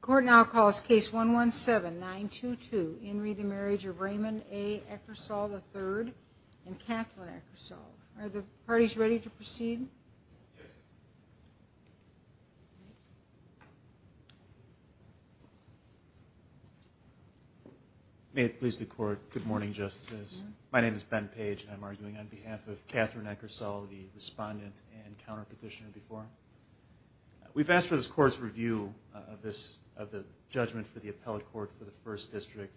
Court now calls case 117922 In re the Marriage of Raymond A. Eckersall III and Catherine Eckersall. Are the parties ready to proceed? May it please the court, good morning justices. My name is Ben Page and I'm arguing on behalf of Catherine Eckersall, the respondent and counter petitioner before. We've asked for this court's review of this, of the judgment for the appellate court for the first district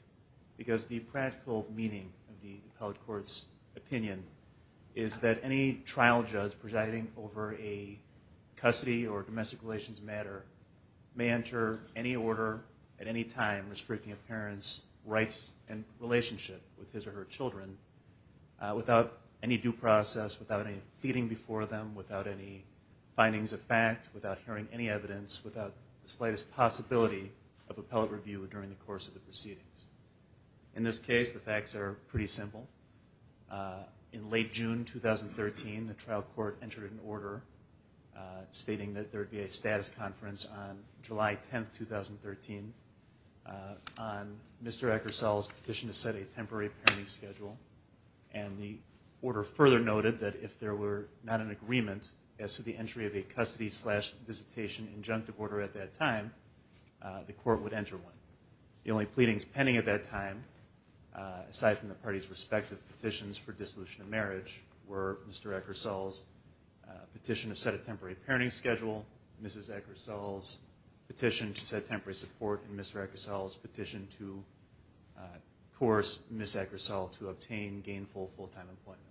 because the practical meaning of the appellate court's opinion is that any trial judge presiding over a custody or domestic relations matter may enter any order at any time restricting a parent's rights and relationship with his or her children without any due process, without any pleading before them, without any findings of fact, without hearing any evidence, without the slightest possibility of appellate review during the course of the proceedings. In this case the facts are pretty simple. In late June 2013 the trial court entered an order stating that there would be a status conference on July 10, 2013 on Mr. Eckersall's petition to set a temporary parenting schedule and the order further noted that if there were not an agreement as to the entry of a custody slash visitation injunctive order at that time, the court would enter one. The only pleadings pending at that time, aside from the party's respective petitions for dissolution of marriage, were Mr. Eckersall's petition to set a temporary parenting schedule, Mrs. Eckersall's petition to set temporary support, and Mr. Eckersall's petition to coerce Ms. Eckersall to obtain gainful full-time employment.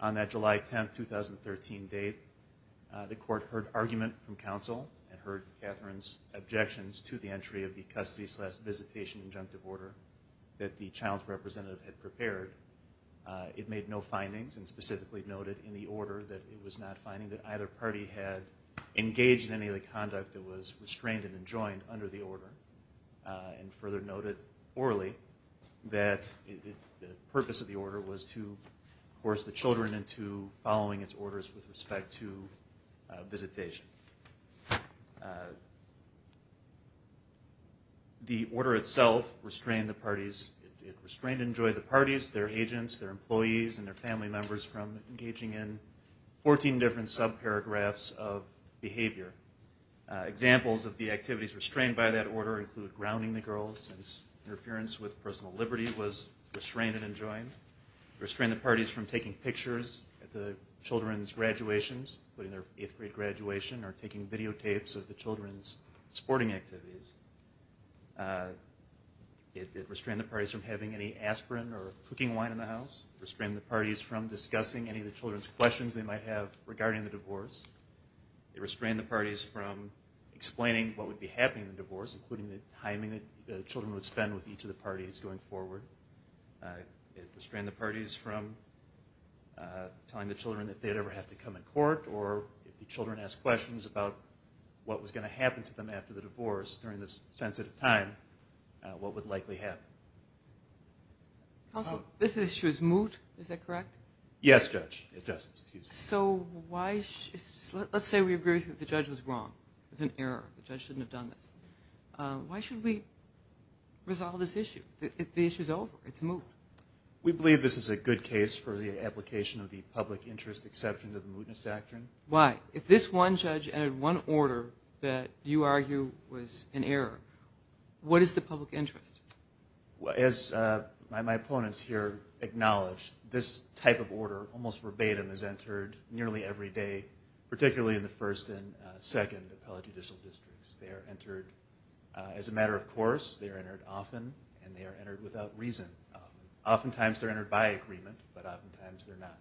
On that July 10, 2013 date, the court heard argument from counsel and heard Katherine's objections to the entry of the custody slash visitation injunctive order that the child's representative had prepared. It made no findings and specifically noted in the order that it was not finding that either party had engaged in any of the conduct that was restrained and enjoined under the order and further noted orally that the purpose of the order was to coerce the children into following its orders with respect to visitation. The order itself restrained the parties, it restrained and enjoined the parties, their agents, their employees, and their family members from engaging in 14 different sub-paragraphs of behavior. Examples of the activities restrained by that order include grounding the girls since interference with personal liberty was restrained and enjoined, restrained the parties from taking pictures at the children's graduations, putting their 8th grade graduation, or taking videotapes of the children's sporting activities. It restrained the parties from having any aspirin or cooking wine in the house, restrained the parties from discussing any of the children's questions they might have regarding the divorce. It restrained the parties from explaining what would be happening in the divorce, including the time that the children would spend with each of the parties going forward. It restrained the parties from telling the children that they'd ever have to come in court or if the children asked questions about what was going to happen to them after the divorce during this sensitive time, what would likely happen. Counsel, this issue is moot, is that correct? Yes, Judge. Let's say we agree that the judge was wrong, it was an error, the judge shouldn't have done this. Why should we resolve this issue? The issue is over, it's moot. We believe this is a good case for the application of the public interest exception to the mootness doctrine. Why? If this one judge entered one order that you argue was an error, what is the public interest? As my opponents here acknowledge, this type of order, almost verbatim, is entered nearly every day, particularly in the first and second appellate judicial districts. They are entered as a matter of course, they are entered often, and they are entered without reason. Oftentimes they're entered by agreement, but oftentimes they're not.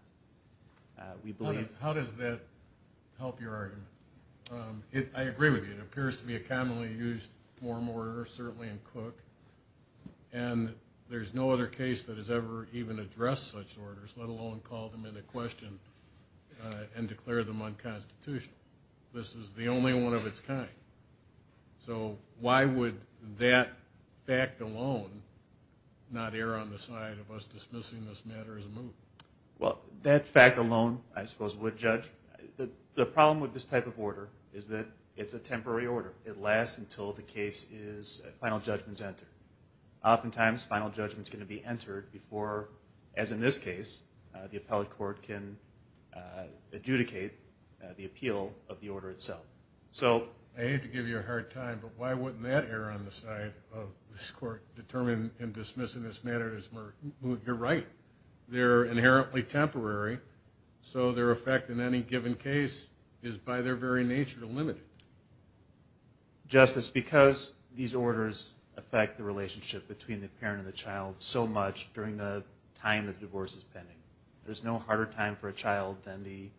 How does that help your argument? I agree with you, it appears to be a commonly used form order, certainly in Cook, and there's no other case that has ever even addressed such orders, let alone called them into question and declared them unconstitutional. This is the only one of its kind. So why would that fact alone not err on the side of us dismissing this matter as a moot? Well, that fact alone, I suppose, would judge. The problem with this type of order is that it's a temporary order. It lasts until the case's final judgment is entered. Oftentimes final judgment is going to be entered before, as in this case, the appellate court can adjudicate the appeal of the order itself. I hate to give you a hard time, but why wouldn't that err on the side of this court determining and dismissing this matter as moot? You're right. They're inherently temporary, so their effect in any given case is by their very nature limited. Justice, because these orders affect the relationship between the parent and the child so much during the time the divorce is pending, there's no harder time for a child than the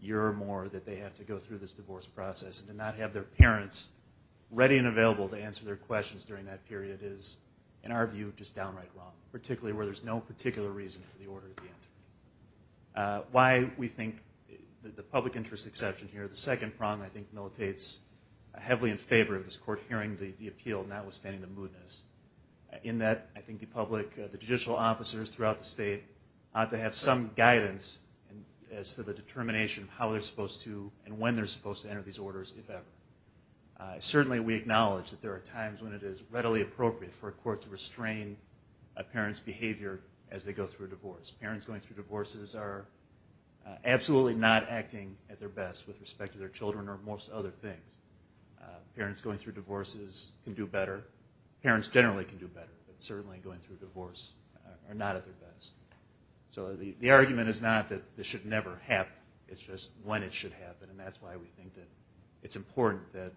year or more that they have to go through this divorce process, and to not have their parents ready and available to answer their questions during that period is, in our view, just downright wrong, particularly where there's no particular reason for the order to be entered. Why we think the public interest exception here, the second prong, I think, militates heavily in favor of this court hearing the appeal, notwithstanding the mootness, in that I think the public, the judicial officers throughout the state ought to have some guidance as to the determination of how they're supposed to and when they're supposed to enter these orders, if ever. Certainly we acknowledge that there are times when it is readily appropriate for a court to restrain a parent's behavior as they go through a divorce. Parents going through divorces are absolutely not acting at their best with respect to their children or most other things. Parents going through divorces can do better. Parents generally can do better, but certainly going through a divorce are not at their best. So the argument is not that this should never happen. It's just when it should happen, and that's why we think that it's important that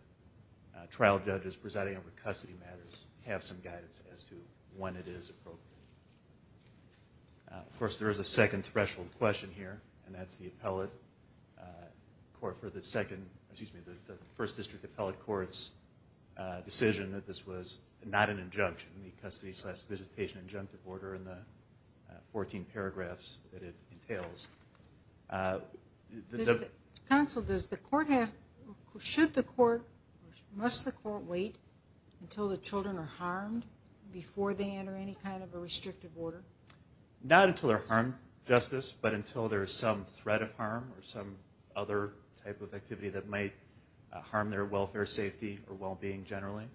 trial judges presiding over custody matters have some guidance as to when it is appropriate. Of course, there is a second threshold question here, and that's the appellate court for the second, excuse me, the first district appellate court's decision that this was not an injunction, the custody solicitation injunctive order in the 14 paragraphs that it entails. Counsel, does the court have should the court, must the court wait until the children are harmed before they enter any kind of a restrictive order? Not until they're harmed, Justice, but until there's some threat of harm or some other type of activity that might harm their welfare, safety, or well-being generally.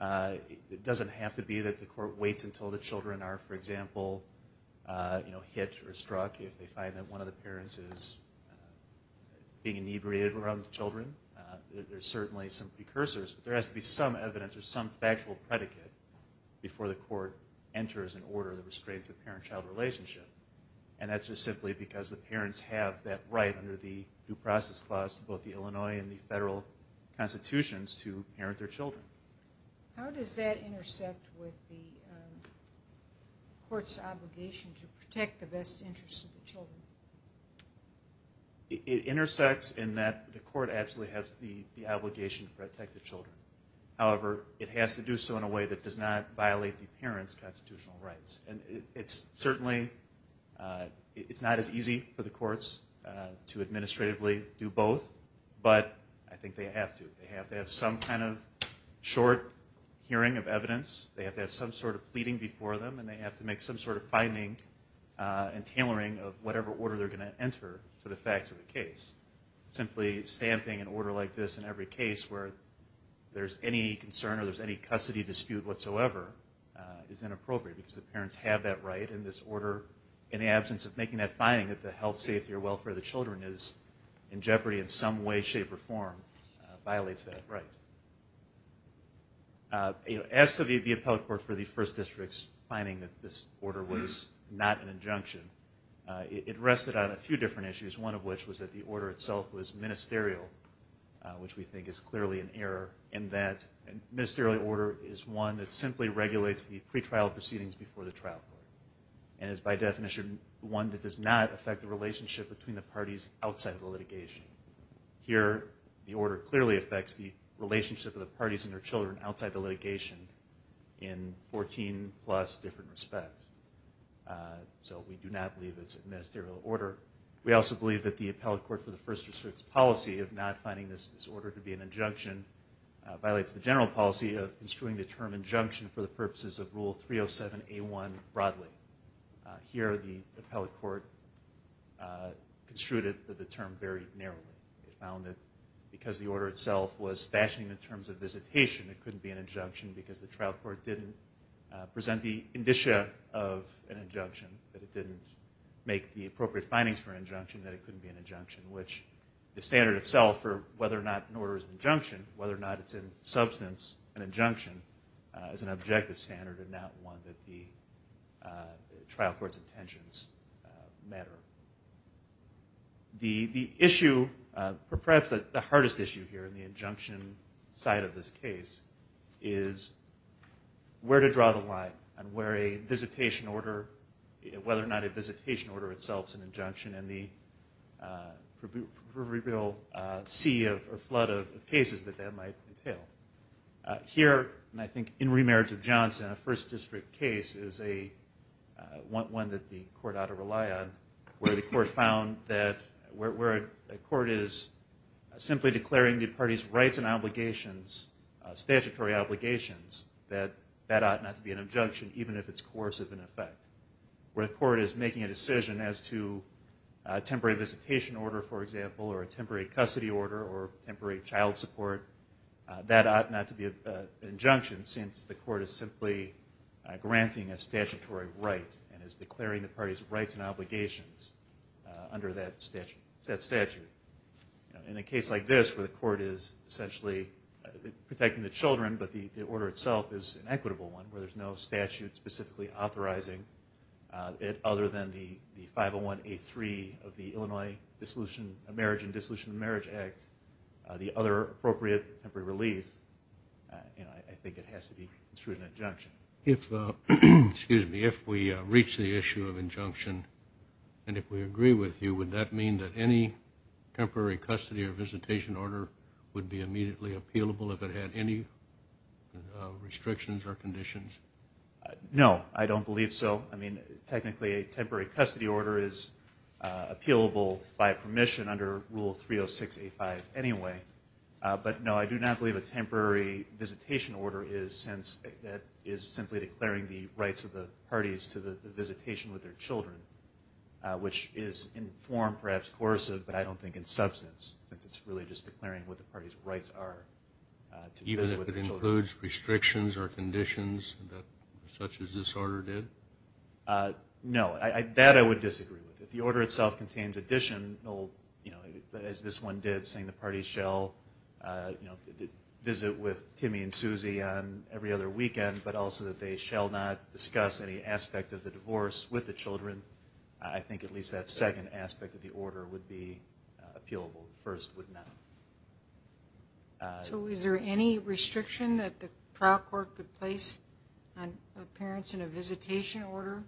It doesn't have to be that the court waits until the children are, for example, hit or struck if they find that one of the parents is being inebriated around the children. There's certainly some precursors, but there has to be some evidence or some factual predicate before the court enters an order that restrains the parent-child relationship. And that's just simply because the parents have that right under the Due Process Clause of both the Illinois and the federal constitutions to parent their children. How does that intersect with the court's obligation to protect the best interests of the children? It intersects in that the court absolutely has the obligation to protect the children. However, it has to do so in a way that does not violate the parents' constitutional rights. It's certainly, it's not as easy for the courts to administratively do both, but I think they have to. They have to have some kind of short hearing of evidence. They have to have some sort of pleading before them, and they have to make some sort of finding and tailoring of whatever order they're going to enter to the facts of the case. Simply stamping an order like this in every case where there's any concern or there's any custody dispute whatsoever is inappropriate because the parents have that right in this order in the absence of making that finding that the health, safety, or welfare of the children is in jeopardy in some way, shape, or form violates that right. As to the appellate court for the first district's finding that this order was not an injunction, it rested on a few different issues, one of which was that the order itself was ministerial, which we think is clearly an error, in that a ministerial order is one that simply regulates the pretrial proceedings before the trial court and is by definition one that does not affect the relationship between the parties outside the litigation. Here the order clearly affects the relationship of the parties and their children outside the litigation in 14 plus different respects. So we do not believe it's a ministerial order. We also believe that the appellate court for the first district's policy of not finding this order to be an injunction violates the general policy of construing the term injunction for the purposes of Rule 307 A1 broadly. Here the appellate court construed it that the term varied narrowly. It found that because the order itself was fashioning in terms of visitation, it couldn't be an injunction because the trial court didn't present the indicia of an injunction, that it didn't make the appropriate findings for an injunction, that it couldn't be an injunction, which the standard itself for whether or not an order is an injunction, whether or not it's in substance an injunction is an objective standard and not one that the appellate court found to matter. The issue, perhaps the hardest issue here in the injunction side of this case is where to draw the line and where a visitation order, whether or not a visitation order itself is an injunction and the proverbial sea of flood of cases that that might entail. Here, and I think in Remarriage of Johnson, a first district case is one that the court ought to rely on, where the court found that where a court is simply declaring the party's rights and obligations, statutory obligations that that ought not to be an injunction even if it's coercive in effect. Where a court is making a decision as to a temporary visitation order, for example, or a temporary custody order or temporary child support that ought not to be an injunction since the court is simply granting a statutory right and is declaring the party's rights and obligations under that statute. In a case like this where the court is essentially protecting the children but the order itself is an equitable one where there's no statute specifically authorizing it other than the 501A3 of the Illinois Marriage and Dissolution of Marriage Act the other appropriate temporary relief, I think it has to be construed an injunction. If we reach the issue of injunction and if we agree with you, would that mean that any temporary custody or visitation order would be immediately appealable if it had any restrictions or conditions? No, I don't believe so. I mean, technically a temporary custody order is appealable by permission under Rule 306A5 anyway. But no, I do not believe a temporary visitation order is since that is simply declaring the rights of the parties to the visitation with their children which is in form, perhaps coercive, but I don't think in substance since it's really just declaring what the party's rights are. Even if it includes restrictions or conditions such as this order did? No, that I would disagree with. If the order itself contains additional, as this one did, saying the parties shall visit with Timmy and Susie every other weekend, but also that they shall not discuss any aspect of the divorce with the children, I think at least that second aspect of the order would be appealable. The first would not. So is there any restriction that the trial court could place on appearance in a visitation order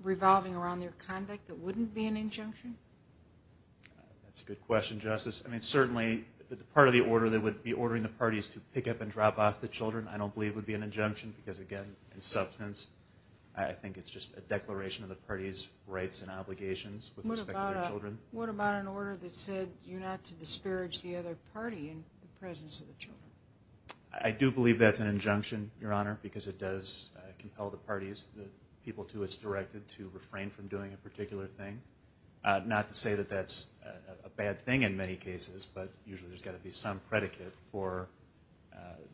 revolving around their conduct that wouldn't be an injunction? That's a good question, Justice. I mean, certainly the part of the order that would be ordering the parties to pick up and drop off the children I don't believe would be an injunction because again, in substance, I think it's just a declaration of the party's rights and obligations with respect to their children. What about an order that said you're not to disparage the other party in the presence of the children? I do believe that's an injunction, Your Honor, because it does compel the parties, the people to which it's directed, to refrain from doing a particular thing. Not to say that that's a bad thing in many cases, but usually there's got to be some predicate for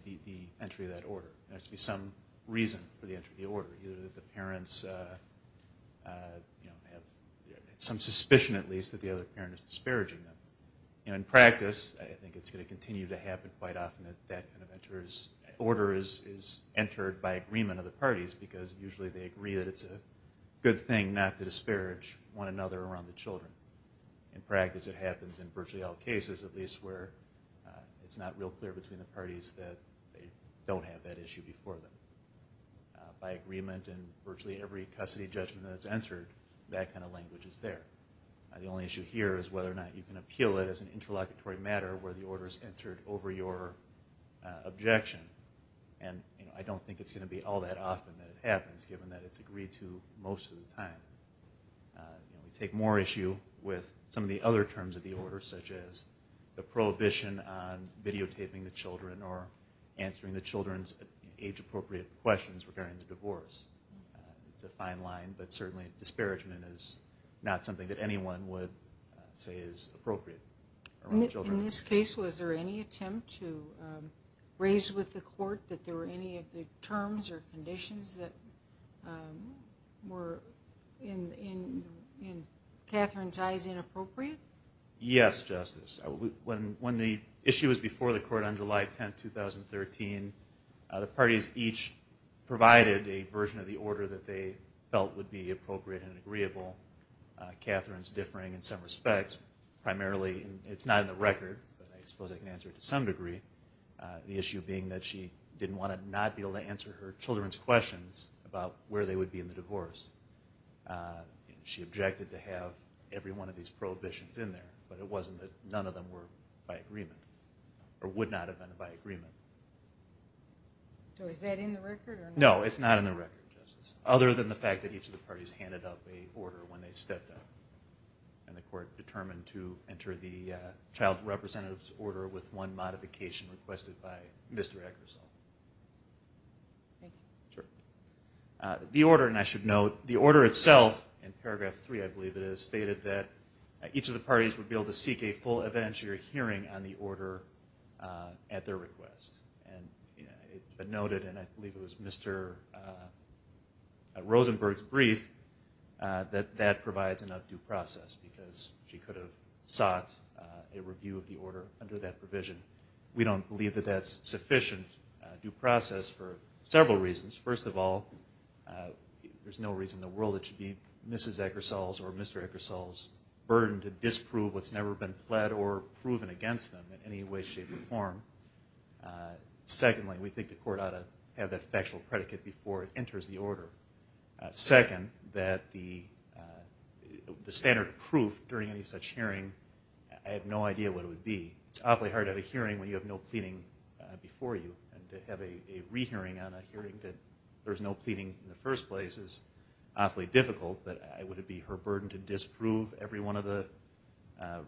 the entry of that order. There has to be some reason for the entry of the order, either that the parents have some suspicion at least that the other parent is disparaging them. In practice, I think it's going to continue to happen quite often that that kind of order is entered by agreement of the parties because usually they agree that it's a good thing not to disparage one another around the children. In practice, it happens in virtually all cases, at least where it's not real clear between the parties that they don't have that issue before them. By agreement in virtually every custody judgment that's entered, that kind of language is there. The only issue here is whether or not you can appeal it as an interlocutory matter where the order is entered over your objection. I don't think it's going to be all that often that it happens given that it's agreed to most of the time. We take more issue with some of the other terms of the order such as the prohibition on videotaping the children or answering the children's age-appropriate questions regarding the divorce. It's a fine line, but certainly disparagement is not something that anyone would say is appropriate around children. Did you report that there were any of the terms or conditions that were, in Katherine's eyes, inappropriate? Yes, Justice. When the issue was before the court on July 10, 2013, the parties each provided a version of the order that they felt would be appropriate and agreeable. Katherine's differing in some respects. Primarily, it's not in the record, but I suppose I can answer it to some degree. The issue being that she didn't want to not be able to answer her children's questions about where they would be in the divorce. She objected to have every one of these prohibitions in there, but it wasn't that none of them were by agreement or would not have been by agreement. So is that in the record? No, it's not in the record, Justice, other than the fact that each of the parties handed up an order when they stepped up. And the court determined to enter the child's representative's order with one modification requested by Mr. Eggersall. The order, and I should note, the order itself, in paragraph 3 I believe it is, stated that each of the parties would be able to seek a full evidentiary hearing on the order at their request. It noted, and I believe it was Mr. Rosenberg's brief, that that provides enough due process because she could have sought a review of the order under that provision. We don't believe that that's sufficient due process for several reasons. First of all, there's no reason in the world it should be Mrs. Eggersall's or Mr. Eggersall's burden to disprove what's never been pled or proven against them in any way, shape, or form. Secondly, we think the court ought to have that factual predicate before it enters the order. Second, that the standard proof during any such hearing, I have no idea what it would be. It's awfully hard at a hearing when you have no pleading before you, and to have a rehearing on a hearing that there's no pleading in the first place is awfully difficult, but would it be her burden to disprove every one of the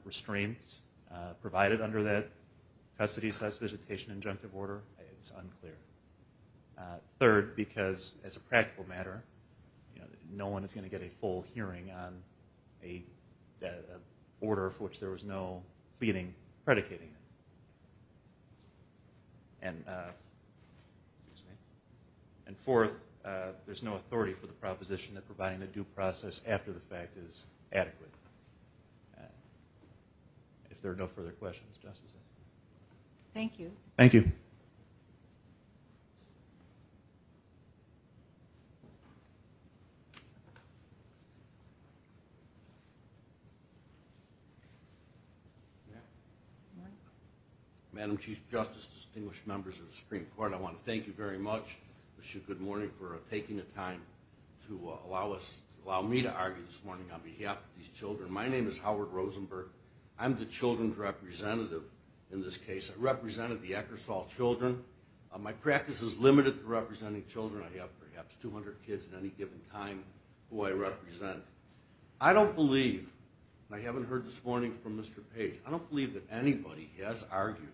restraints provided under that custody solicitation injunctive order? It's unclear. Third, because as a practical matter, no one is going to get a full hearing on an order for which there was no pleading predicating it. And fourth, there's no authority for the proposition that providing the due process after the fact is adequate. If there are no further questions, Justice Eggersall. Thank you. Ma'am? Madam Chief Justice, distinguished members of the Supreme Court, I want to thank you very much. I wish you good morning for taking the time to allow me to argue this morning on behalf of these children. My name is Howard Rosenberg. I'm the children's representative in this case. I represented the Eggersall children. My practice is limited to representing children. I have perhaps 200 kids at any time that I represent. I don't believe, and I haven't heard this morning from Mr. Page, I don't believe that anybody has argued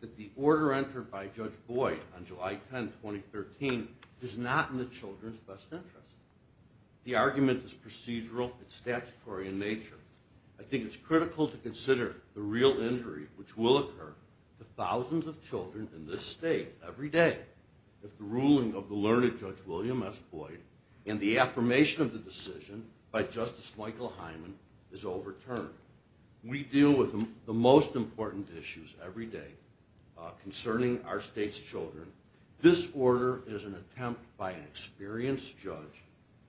that the order entered by Judge Boyd on July 10, 2013 is not in the children's best interest. The argument is procedural, it's statutory in nature. I think it's critical to consider the real injury which will occur to thousands of children in this state every day if the ruling of the learned Judge William S. Boyd and the affirmation of the decision by Justice Michael Hyman is overturned. We deal with the most important issues every day concerning our state's children. This order is an attempt by an experienced judge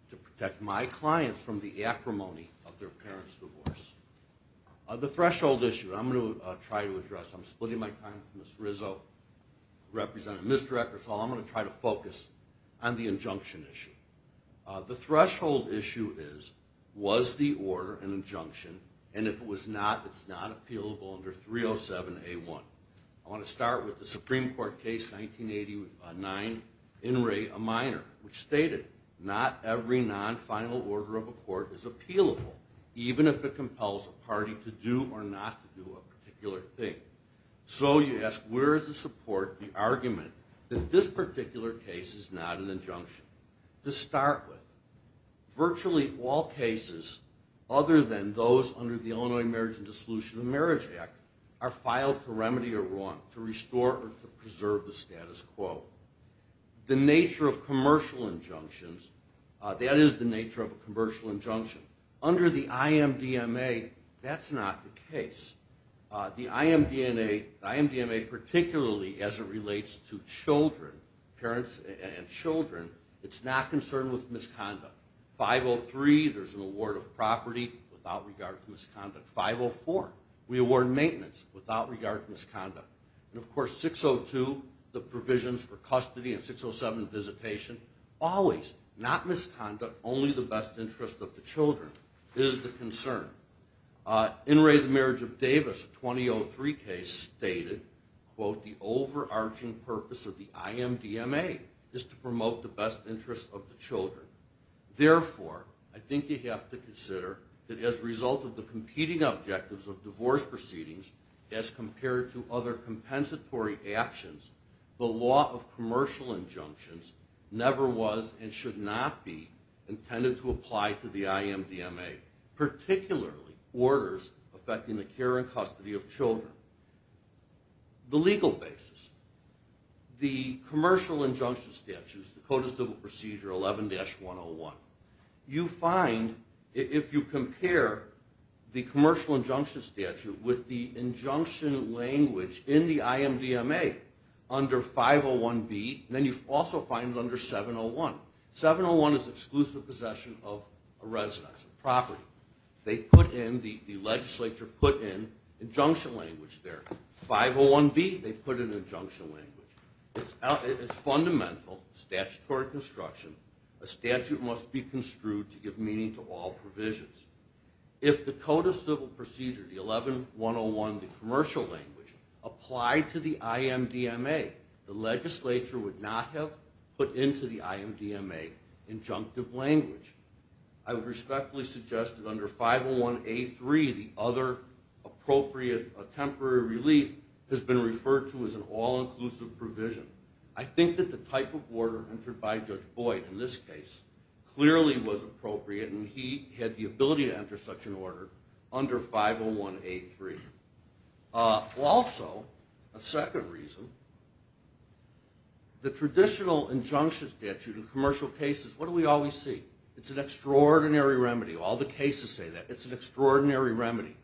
to protect my clients from the acrimony of their parents' divorce. The threshold issue I'm going to try to address, I'm splitting my time with Ms. Rizzo, representing Ms. Eggersall, I'm going to try to focus on the injunction issue. The threshold issue is, was the order an injunction, and if it was not, it's not appealable under 307A1. I want to start with the Supreme Court case 1989, in re, a minor, which stated, not every non-final order of a court is appealable, even if it compels a party to do or not to do a particular thing. So you ask, where is the support, the argument that this particular case is not an injunction? To start with, virtually all cases other than those under the Illinois Marriage and Dissolution of Marriage Act are filed to remedy a wrong, to restore or to preserve the status quo. The nature of commercial injunctions, that is the nature of a commercial injunction. Under the IMDMA, that's not the case. The IMDMA particularly, as it relates to children, parents and children, it's not concerned with misconduct. 503, there's an award of property without regard to misconduct. 504, we award maintenance without regard to misconduct. And of course, 602, the provisions for custody and 607 visitation, always, not misconduct, only the best interest of the children is the concern. In re, the Marriage of Davis, 2003 case stated, quote, the overarching purpose of the IMDMA is to promote the best interest of the children. Therefore, I think you have to consider that as a result of the competing objectives of divorce proceedings, as compared to other compensatory actions, the law of commercial injunctions never was and should not be intended to apply to the IMDMA, particularly orders affecting the care and custody of children. The legal basis, the commercial injunction statutes, the Code of Civil Procedure 11-101, you find, if you compare the commercial injunction statute with the injunction language in the IMDMA under 501B, then you also find it under 701. 701 is exclusive possession of a residence, a property. They put in, the legislature put in injunction language there. 501B, they put in injunction language. It's fundamental, statutory construction, a statute must be construed to give meaning to all provisions. If the Code of Civil Procedure, the 11-101, the commercial language, applied to the IMDMA, the legislature would not have put into the IMDMA injunctive language. I would respectfully suggest that under 501A3 the other appropriate temporary relief has been referred to as an all-inclusive provision. I think that the type of order entered by Judge Boyd in this case clearly was appropriate and he had the ability to enter such an order under 501A3. Also, a second reason, the traditional injunction statute in commercial cases, what do we always see? It's an extraordinary remedy. All the cases say that. It's an extraordinary remedy.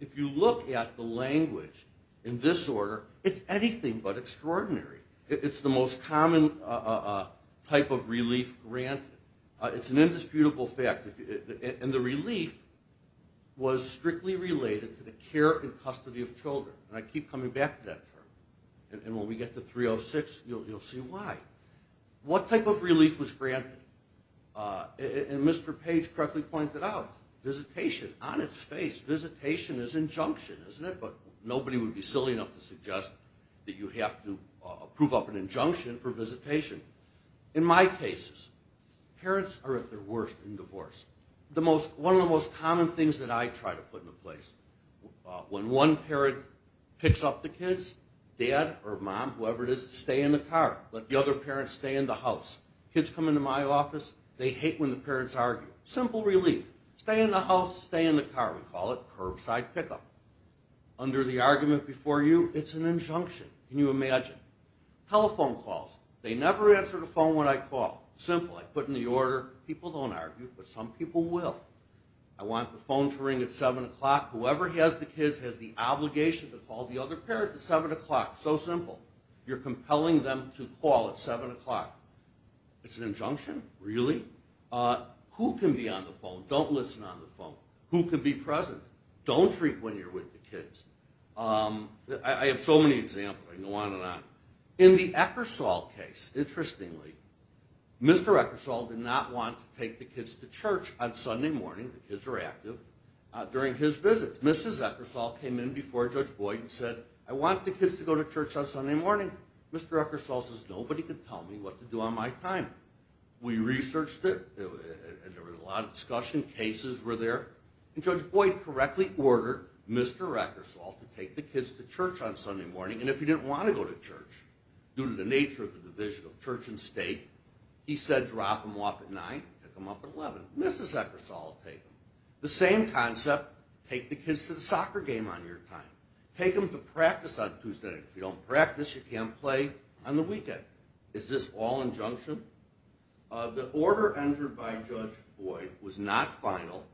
If you look at the language in this order, it's anything but extraordinary. It's the most common type of relief granted. It's an indisputable fact. And the relief was strictly related to the care and custody of children. And I keep coming back to that term. And when we get to 306, you'll see why. What type of relief was granted? And Mr. Page correctly pointed out, visitation. On its face, visitation is injunction, isn't it? But nobody would be silly enough to suggest that you have to approve up an injunction for visitation. In my cases, parents are at their worst in divorce. One of the most common things that I try to put in place when one parent picks up the kids, dad or mom, whoever it is, stay in the car. Let the other parents stay in the house. Kids come into my office, they hate when the parents argue. Simple relief. Stay in the house, stay in the car. We call it curbside pickup. Under the argument before you, it's an injunction. Can you imagine? Telephone calls. They never answer the phone when I call. Simple. I put in the order. People don't argue, but some people will. I want the phone to ring at 7 o'clock. Whoever has the kids has the phone at 7 o'clock. So simple. You're compelling them to call at 7 o'clock. It's an injunction? Really? Who can be on the phone? Don't listen on the phone. Who can be present? Don't treat when you're with the kids. I have so many examples. I can go on and on. In the Eckersall case, interestingly, Mr. Eckersall did not want to take the kids to church on Sunday morning. The kids were active during his visits. Mrs. Eckersall came in before Judge Boyd and said, I want the kids to go to church on Sunday morning. Mr. Eckersall says, nobody can tell me what to do on my time. We researched it. There was a lot of discussion. Cases were there. Judge Boyd correctly ordered Mr. Eckersall to take the kids to church on Sunday morning, and if he didn't want to go to church, due to the nature of the division of church and state, he said drop them off at 9, pick them up at 11. Mrs. Eckersall will take them. The same concept, take the kids to the soccer game on your time. Take them to practice on Tuesday night. If you don't practice, you can't play on the weekend. Is this all injunction? The order entered by Judge Boyd was not final.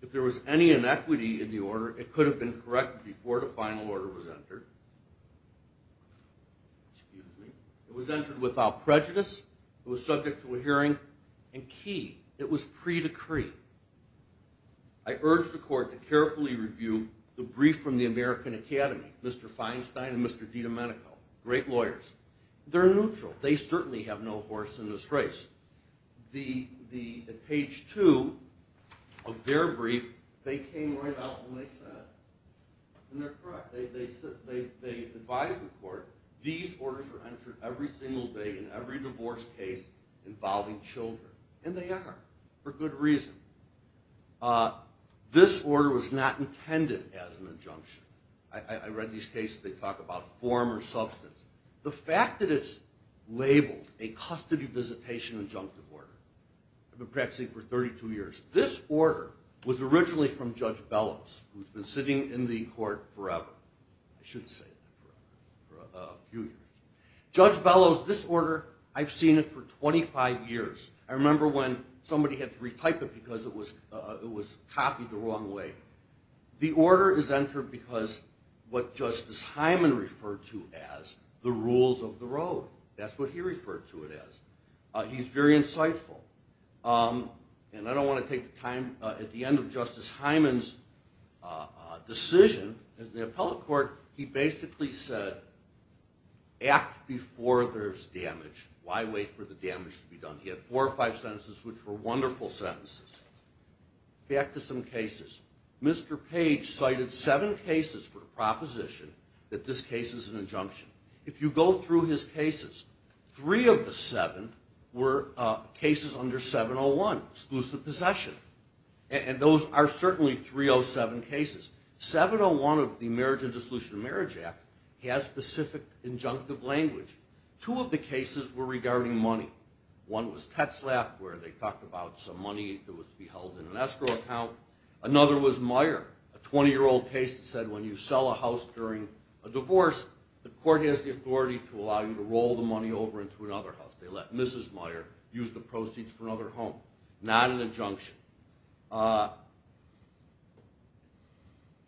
If there was any inequity in the order, it could have been corrected before the final order was entered. It was entered without prejudice. It was subject to a hearing. And key, it was pre-decree. I urge the court to carefully review the brief from the American Academy, Mr. Feinstein and Mr. DiDomenico, great lawyers. They're neutral. They certainly have no horse in this race. At page 2 of their brief, they came right out and they said, and they're correct, they advised the court, these orders were entered every single day in every divorce case involving children. And they are, for good reason. This order was not intended as an injunction. I read these cases, they talk about form or substance. The fact that it's labeled a custody visitation injunctive order. I've been practicing for 32 years. This order was originally from Judge Bellows, who's been sitting in the court forever. I shouldn't say forever, a few years. Judge Bellows, this order, I've seen it for somebody had to retype it because it was copied the wrong way. The order is entered because what Justice Hyman referred to as the rules of the road. That's what he referred to it as. He's very insightful. And I don't want to take the time, at the end of Justice Hyman's decision, in the appellate court, he basically said act before there's damage. Why wait for the damage to be done? He had four or five sentences which were wonderful sentences. Back to some cases. Mr. Page cited seven cases for the proposition that this case is an injunction. If you go through his cases, three of the seven were cases under 701, exclusive possession. And those are certainly 307 cases. 701 of the Marriage and Dissolution of Marriage Act has specific injunctive language. Two of the one was Tetzlaff where they talked about some money that was to be held in an escrow account. Another was Meyer, a 20-year-old case that said when you sell a house during a divorce, the court has the authority to allow you to roll the money over into another house. They let Mrs. Meyer use the proceeds for another home. Not an injunction.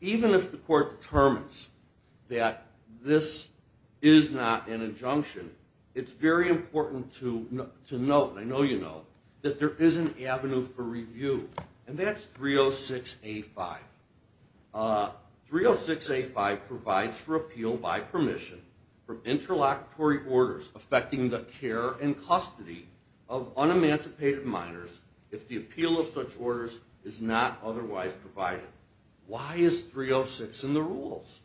Even if the court determines that this is not an injunction, it's very important to note, and I know you know, that there is an avenue for review. And that's 306A5. 306A5 provides for appeal by permission from interlocutory orders affecting the care and custody of unemancipated minors if the appeal of such orders is not otherwise provided. Why is 306 in the rules?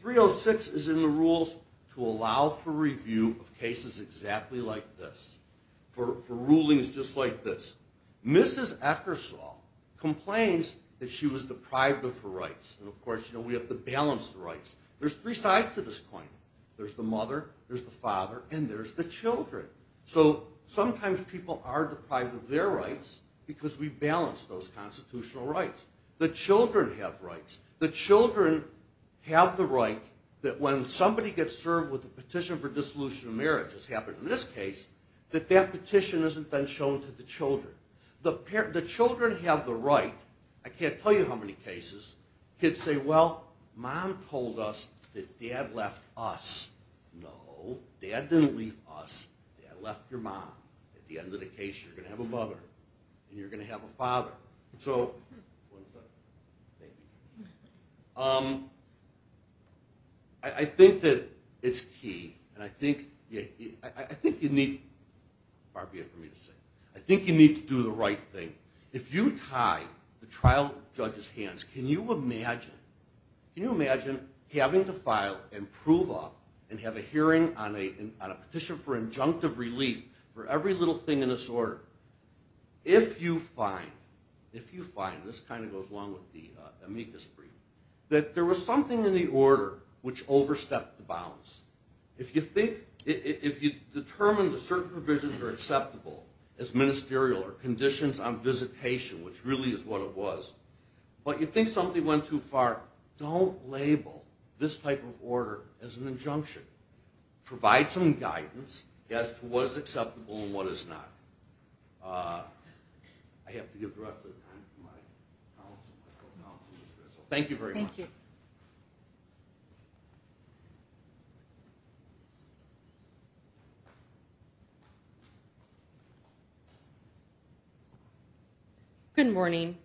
306 is in the rules to allow for review of cases exactly like this. For rulings just like this. Mrs. Eckersall complains that she was deprived of her rights. And of course, you know, we have to balance the rights. There's three sides to this claim. There's the mother, there's the father, and there's the children. So sometimes people are deprived of their rights because we balance those constitutional rights. The children have rights. The children have the right that when somebody gets served with a petition for dissolution of marriage, as happened in this case, that that petition isn't then shown to the children. The children have the right. I can't tell you how many cases kids say, well, mom told us that dad left us. No. Dad didn't leave us. Dad left your mom. At the end of the case, you're going to have a mother. And you're going to have a father. So, I think that it's key and I think you need to do the right thing. If you tie the trial judge's hands, can you imagine having to file and prove up and have a hearing on a petition for injunctive relief for every little thing in this order? If you find, this kind of goes along with the amicus brief, that there was something in the order which overstepped the bounds. If you determine that certain provisions are acceptable as ministerial or conditions on visitation, which really is what it was, but you think something went too far, don't label this type of order I have to give the rest of the time to my counsel, my co-counsel, Ms. Rizzo. Thank you very much. Good morning.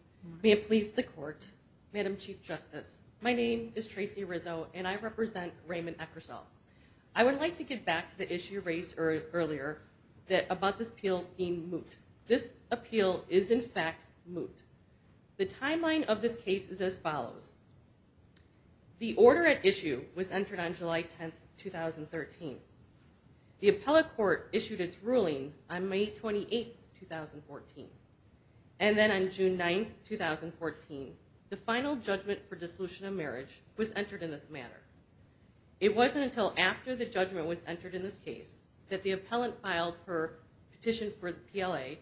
May it please the court. Madam Chief Justice, my name is Tracy Rizzo and I represent Raymond Eckersall. I would like to get back to the issue raised earlier about this appeal being moot. This appeal is in fact moot. The timeline of this case is as follows. The order at issue was entered on July 10, 2013. The appellate court issued its ruling on May 28, 2014. And then on June 9, 2014, the final judgment for dissolution of marriage was entered in this manner. It wasn't until after the judgment was entered in this case that the appellant filed her petition for PLA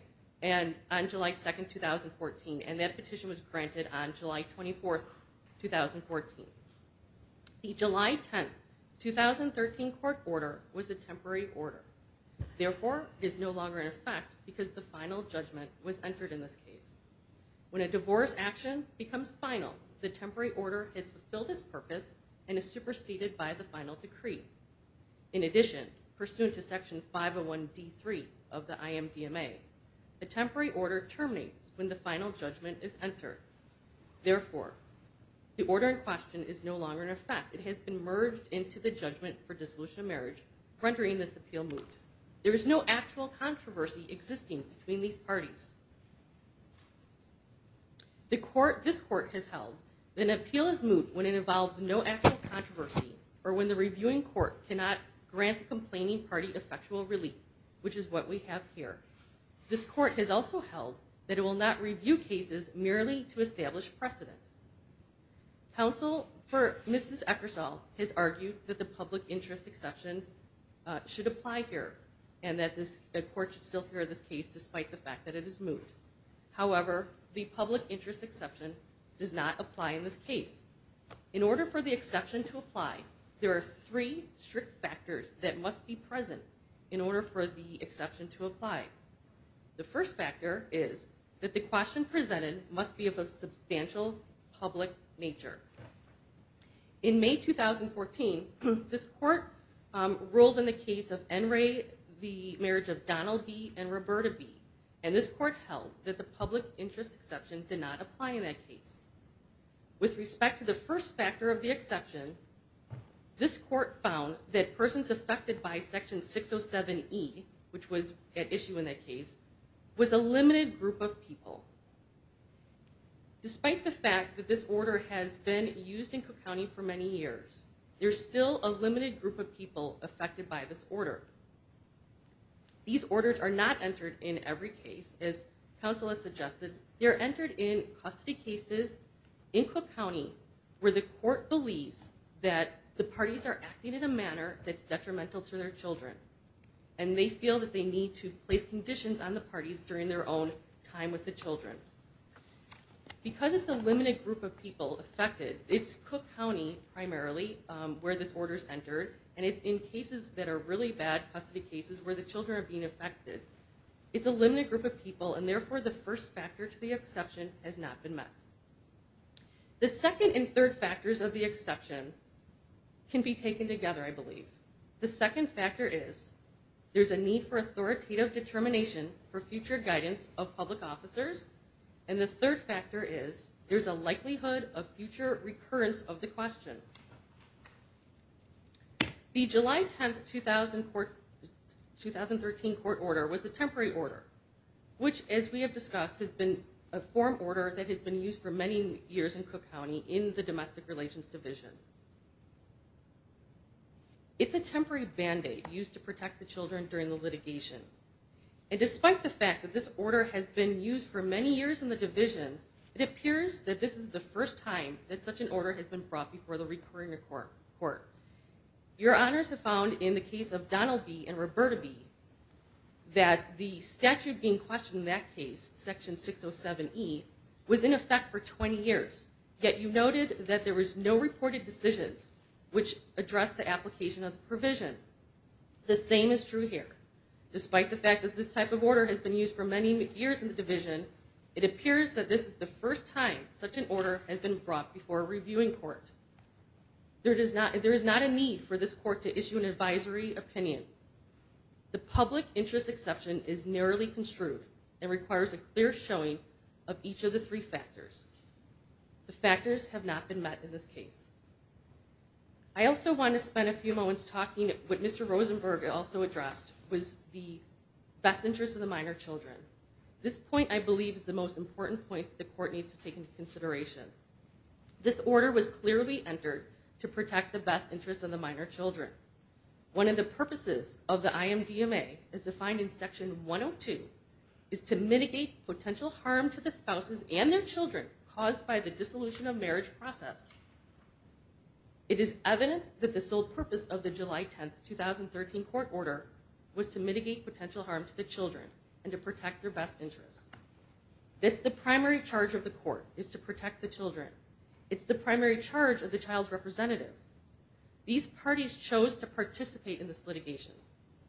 on July 2, 2014, and that petition was granted on July 24, 2014. The July 10, 2013 court order was a temporary order. Therefore, it is no longer in effect because the final judgment was entered in this case. When a divorce action becomes final, the temporary order has fulfilled its purpose and is superseded by the final decree. In addition, pursuant to Section 501 D3 of the IMDMA, the temporary order terminates when the final judgment is entered. Therefore, the order in question is no longer in effect. It has been merged into the judgment for dissolution of marriage, rendering this appeal moot. There is no actual controversy existing between these parties. This court has held that an appeal is moot when it involves no actual controversy or when the reviewing court cannot grant the complaining party effectual relief, which is what we have here. This court has also held that it will not review cases merely to establish precedent. Counsel for Mrs. Eckersall has argued that the public interest exception should apply here and that the court should still hear this case despite the fact that it is moot. However, the public interest exception does not apply in this case. In order for the exception to apply, there are three strict factors that must be present in order for the exception to apply. The first factor is that the question presented must be of a substantial public nature. In May 2014, this court ruled in the case of N. Ray the marriage of Donald B. and Roberta B., and this court held that the public interest exception did not apply in that case. With respect to the first factor of the exception, this court found that persons affected by Section 607E which was at issue in that case, was a limited group of people. Despite the fact that this order has been used in Cook County for many years, there is still a limited group of people affected by this order. These orders are not entered in every case. As counsel has suggested, they are entered in custody cases in Cook County where the court believes that the parties are acting in a manner that's detrimental to their children, and they feel that they need to place conditions on the parties during their own time with the children. Because it's a limited group of people affected, it's Cook County primarily where this order is entered, and it's in cases that are really bad custody cases where the children are being affected. It's a limited group of people, and therefore the first factor to the exception has not been met. The second and third factors of the exception can be taken together, I believe. The second factor is there's a need for authoritative determination for future guidance of public officers, and the third factor is there's a likelihood of future recurrence of the question. The July 10, 2013 court order was a temporary order, which, as we have discussed, has been a form order that has been used for many years in Cook County in the Domestic Relations Division. It's a temporary Band-Aid used to protect the children during the litigation. And despite the fact that this order has been used for many years in the Division, it appears that this is the first time that such an order has been brought before the recurring court. Your Honors have found in the case of that the statute being questioned in that case, Section 607E, was in effect for 20 years, yet you noted that there was no reported decisions which addressed the application of the provision. The same is true here. Despite the fact that this type of order has been used for many years in the Division, it appears that this is the first time such an order has been brought before a reviewing court. There is not a need for this court to issue an advisory opinion. The public interest exception is narrowly construed and requires a clear showing of each of the three factors. The factors have not been met in this case. I also want to spend a few moments talking about what Mr. Rosenberg also addressed was the best interest of the minor children. This point, I believe, is the most important point the court needs to take into consideration. This order was clearly entered to protect the best interest of the minor children. One of the purposes of the IMDMA, as defined in Section 102, is to mitigate potential harm to the spouses and their children caused by the dissolution of marriage process. It is evident that the sole purpose of the July 10, 2013 court order was to mitigate potential harm to the children and to protect their best interests. It's the primary charge of the court is to protect the children. It's the primary charge of the child's representative. These parties chose to participate in this litigation.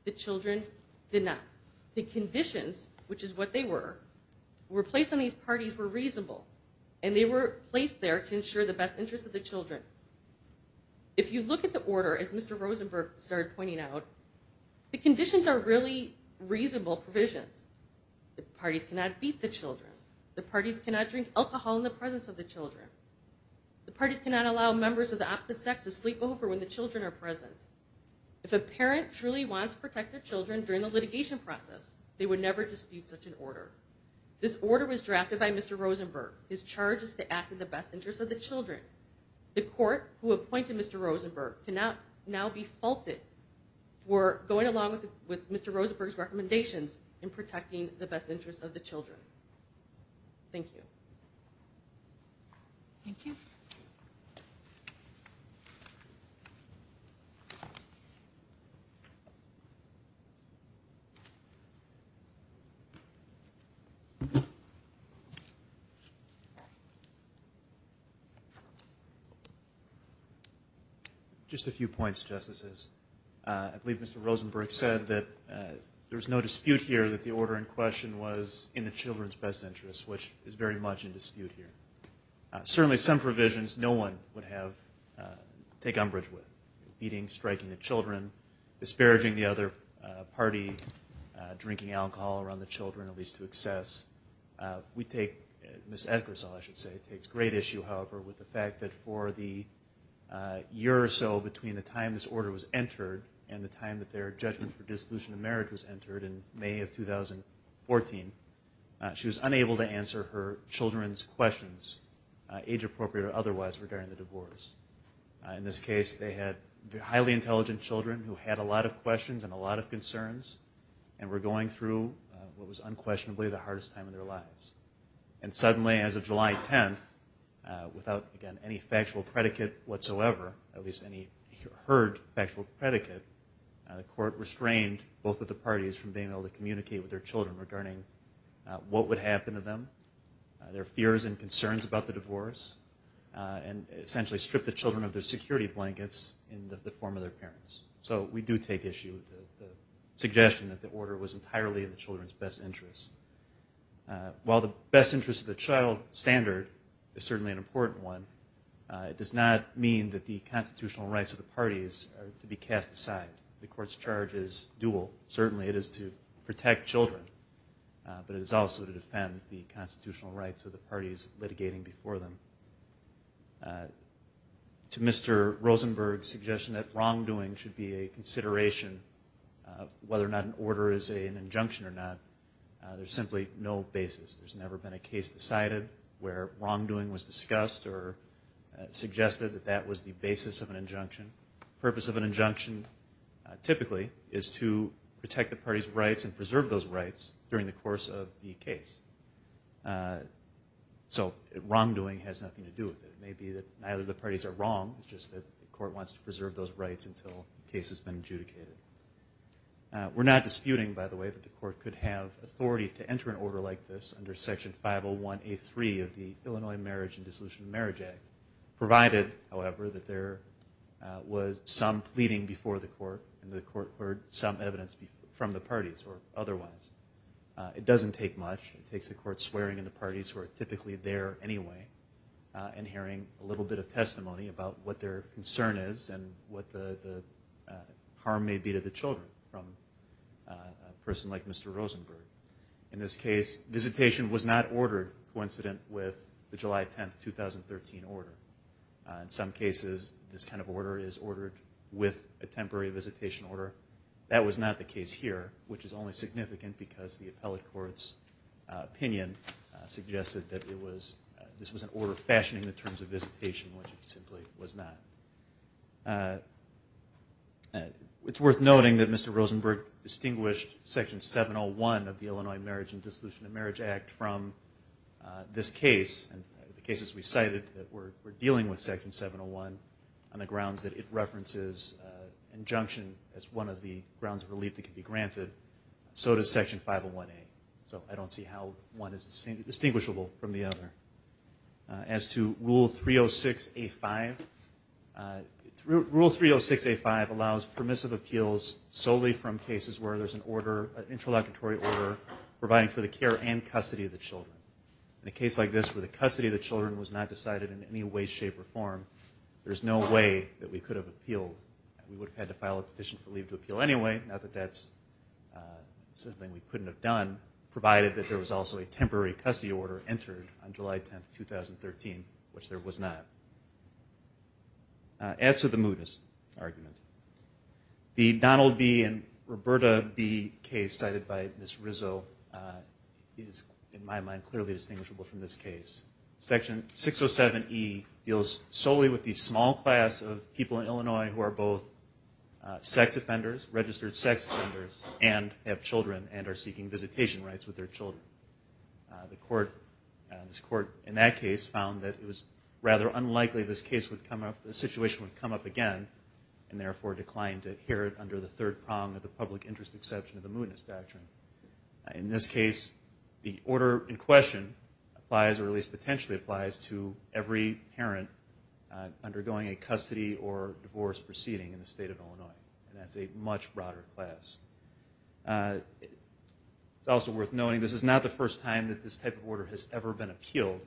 The children did not. The conditions, which is what they were, were placed on these parties were reasonable and they were placed there to ensure the best interest of the children. If you look at the order, as Mr. Rosenberg started pointing out, the conditions are really reasonable provisions. The parties cannot beat the children. The parties cannot drink alcohol in the presence of the children. The parties cannot allow members of the opposite sex to sleep over when the children are present. If a parent truly wants to protect their children during the litigation process, they would never dispute such an order. This order was drafted by Mr. Rosenberg. His charge is to act in the best interest of the children. The court, who appointed Mr. Rosenberg, can now be faulted for going along with Mr. Rosenberg's recommendations in protecting the best interests of the children. Thank you. Thank you. Just a few points, Justices. I believe Mr. Rosenberg said that there was no dispute here that the order in question was in the children's best interest, which is very much in dispute here. Certainly some provisions no one would have take umbrage with. Beating, striking the children, disparaging the other party, drinking alcohol around the children at least to excess. We take, Ms. Edgarsall, I should say, takes great issue, however, with the fact that for the year or so between the time this order was entered and the time that their judgment for dissolution of marriage was entered in May of 2014, she was unable to answer her children's questions age appropriate or otherwise regarding the divorce. In this case, they had highly intelligent children who had a lot of questions and a lot of concerns and were going through what was unquestionably the hardest time of their lives. And suddenly as of July 10th, without again any factual predicate whatsoever, at least any heard factual predicate, the court restrained both of the parties from being what would happen to them, their fears and concerns about the divorce, and essentially stripped the children of their security blankets in the form of their parents. So we do take issue with the suggestion that the order was entirely in the children's best interest. While the best interest of the child standard is certainly an important one, it does not mean that the constitutional rights of the parties are to be cast aside. The court's charge is dual. Certainly it is to defend the constitutional rights of the parties litigating before them. To Mr. Rosenberg's suggestion that wrongdoing should be a consideration of whether or not an order is an injunction or not, there's simply no basis. There's never been a case decided where wrongdoing was discussed or suggested that that was the basis of an injunction. The purpose of an injunction typically is to protect the parties' rights and the purpose of the case. So wrongdoing has nothing to do with it. It may be that neither of the parties are wrong, it's just that the court wants to preserve those rights until the case has been adjudicated. We're not disputing, by the way, that the court could have authority to enter an order like this under Section 501A3 of the Illinois Marriage and Dissolution of Marriage Act, provided, however, that there was some pleading before the court and the court heard some evidence from the parties or otherwise. It doesn't take much. It takes the court swearing in the parties who are typically there anyway and hearing a little bit of testimony about what their concern is and what the harm may be to the children from a person like Mr. Rosenberg. In this case, visitation was not ordered coincident with the July 10, 2013 order. In some cases this kind of order is ordered with a temporary visitation order. That was not the case here, which is only significant because the appellate court's opinion suggested that this was an order fashioning the terms of visitation, which it simply was not. It's worth noting that Mr. Rosenberg distinguished Section 701 of the Illinois Marriage and Dissolution of Marriage Act from this case and the cases we cited in this injunction as one of the grounds of relief that can be granted, so does Section 501A. So I don't see how one is distinguishable from the other. As to Rule 306A5, Rule 306A5 allows permissive appeals solely from cases where there's an order, an interlocutory order, providing for the care and custody of the children. In a case like this where the custody of the children was not decided in any way, shape, or form, there's no way that we could have appealed. We would have had to file a petition for leave to appeal anyway, now that that's something we couldn't have done, provided that there was also a temporary custody order entered on July 10, 2013, which there was not. As to the mootness argument, the Donald B. and Roberta B. case cited by Ms. Rizzo is, in my mind, clearly distinguishable from this case. Section 607E deals solely with the small class of people in Illinois who are both sex offenders, registered sex offenders, and have children and are seeking visitation rights with their children. This Court, in that case, found that it was rather unlikely this situation would come up again, and therefore declined to adhere it under the third prong of the public interest exception of the mootness doctrine. In this case, the order in question applies, or at least potentially applies, to every parent undergoing a custody or divorce proceeding in the state of Illinois, and that's a much broader class. It's also worth noting this is not the first time that this type of order has ever been appealed.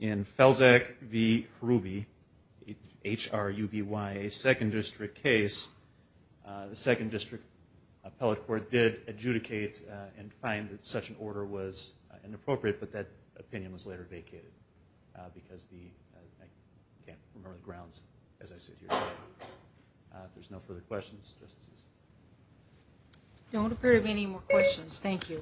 In Felczak v. Hruby, H-R-U-B-Y, a Second District case, the Second District Appellate Court did adjudicate and find that such an order was inappropriate, but that opinion was later vacated. I can't remember the grounds as I sit here. If there's no further questions, Justices. Don't appear to have any more questions. Thank you.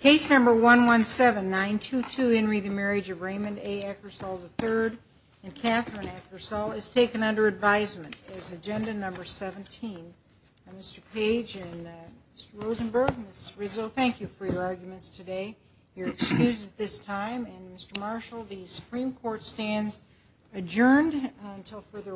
Case number 117922, Henry the Marriage of Raymond A. Eckersall III and Catherine Eckersall, is taken under advisement as agenda number 17. Mr. Page and Mr. Rosenberg, Ms. Rizzo, thank you for your arguments today. You're excused at this time, and Mr. Marshall, the Supreme Court stands adjourned until further order.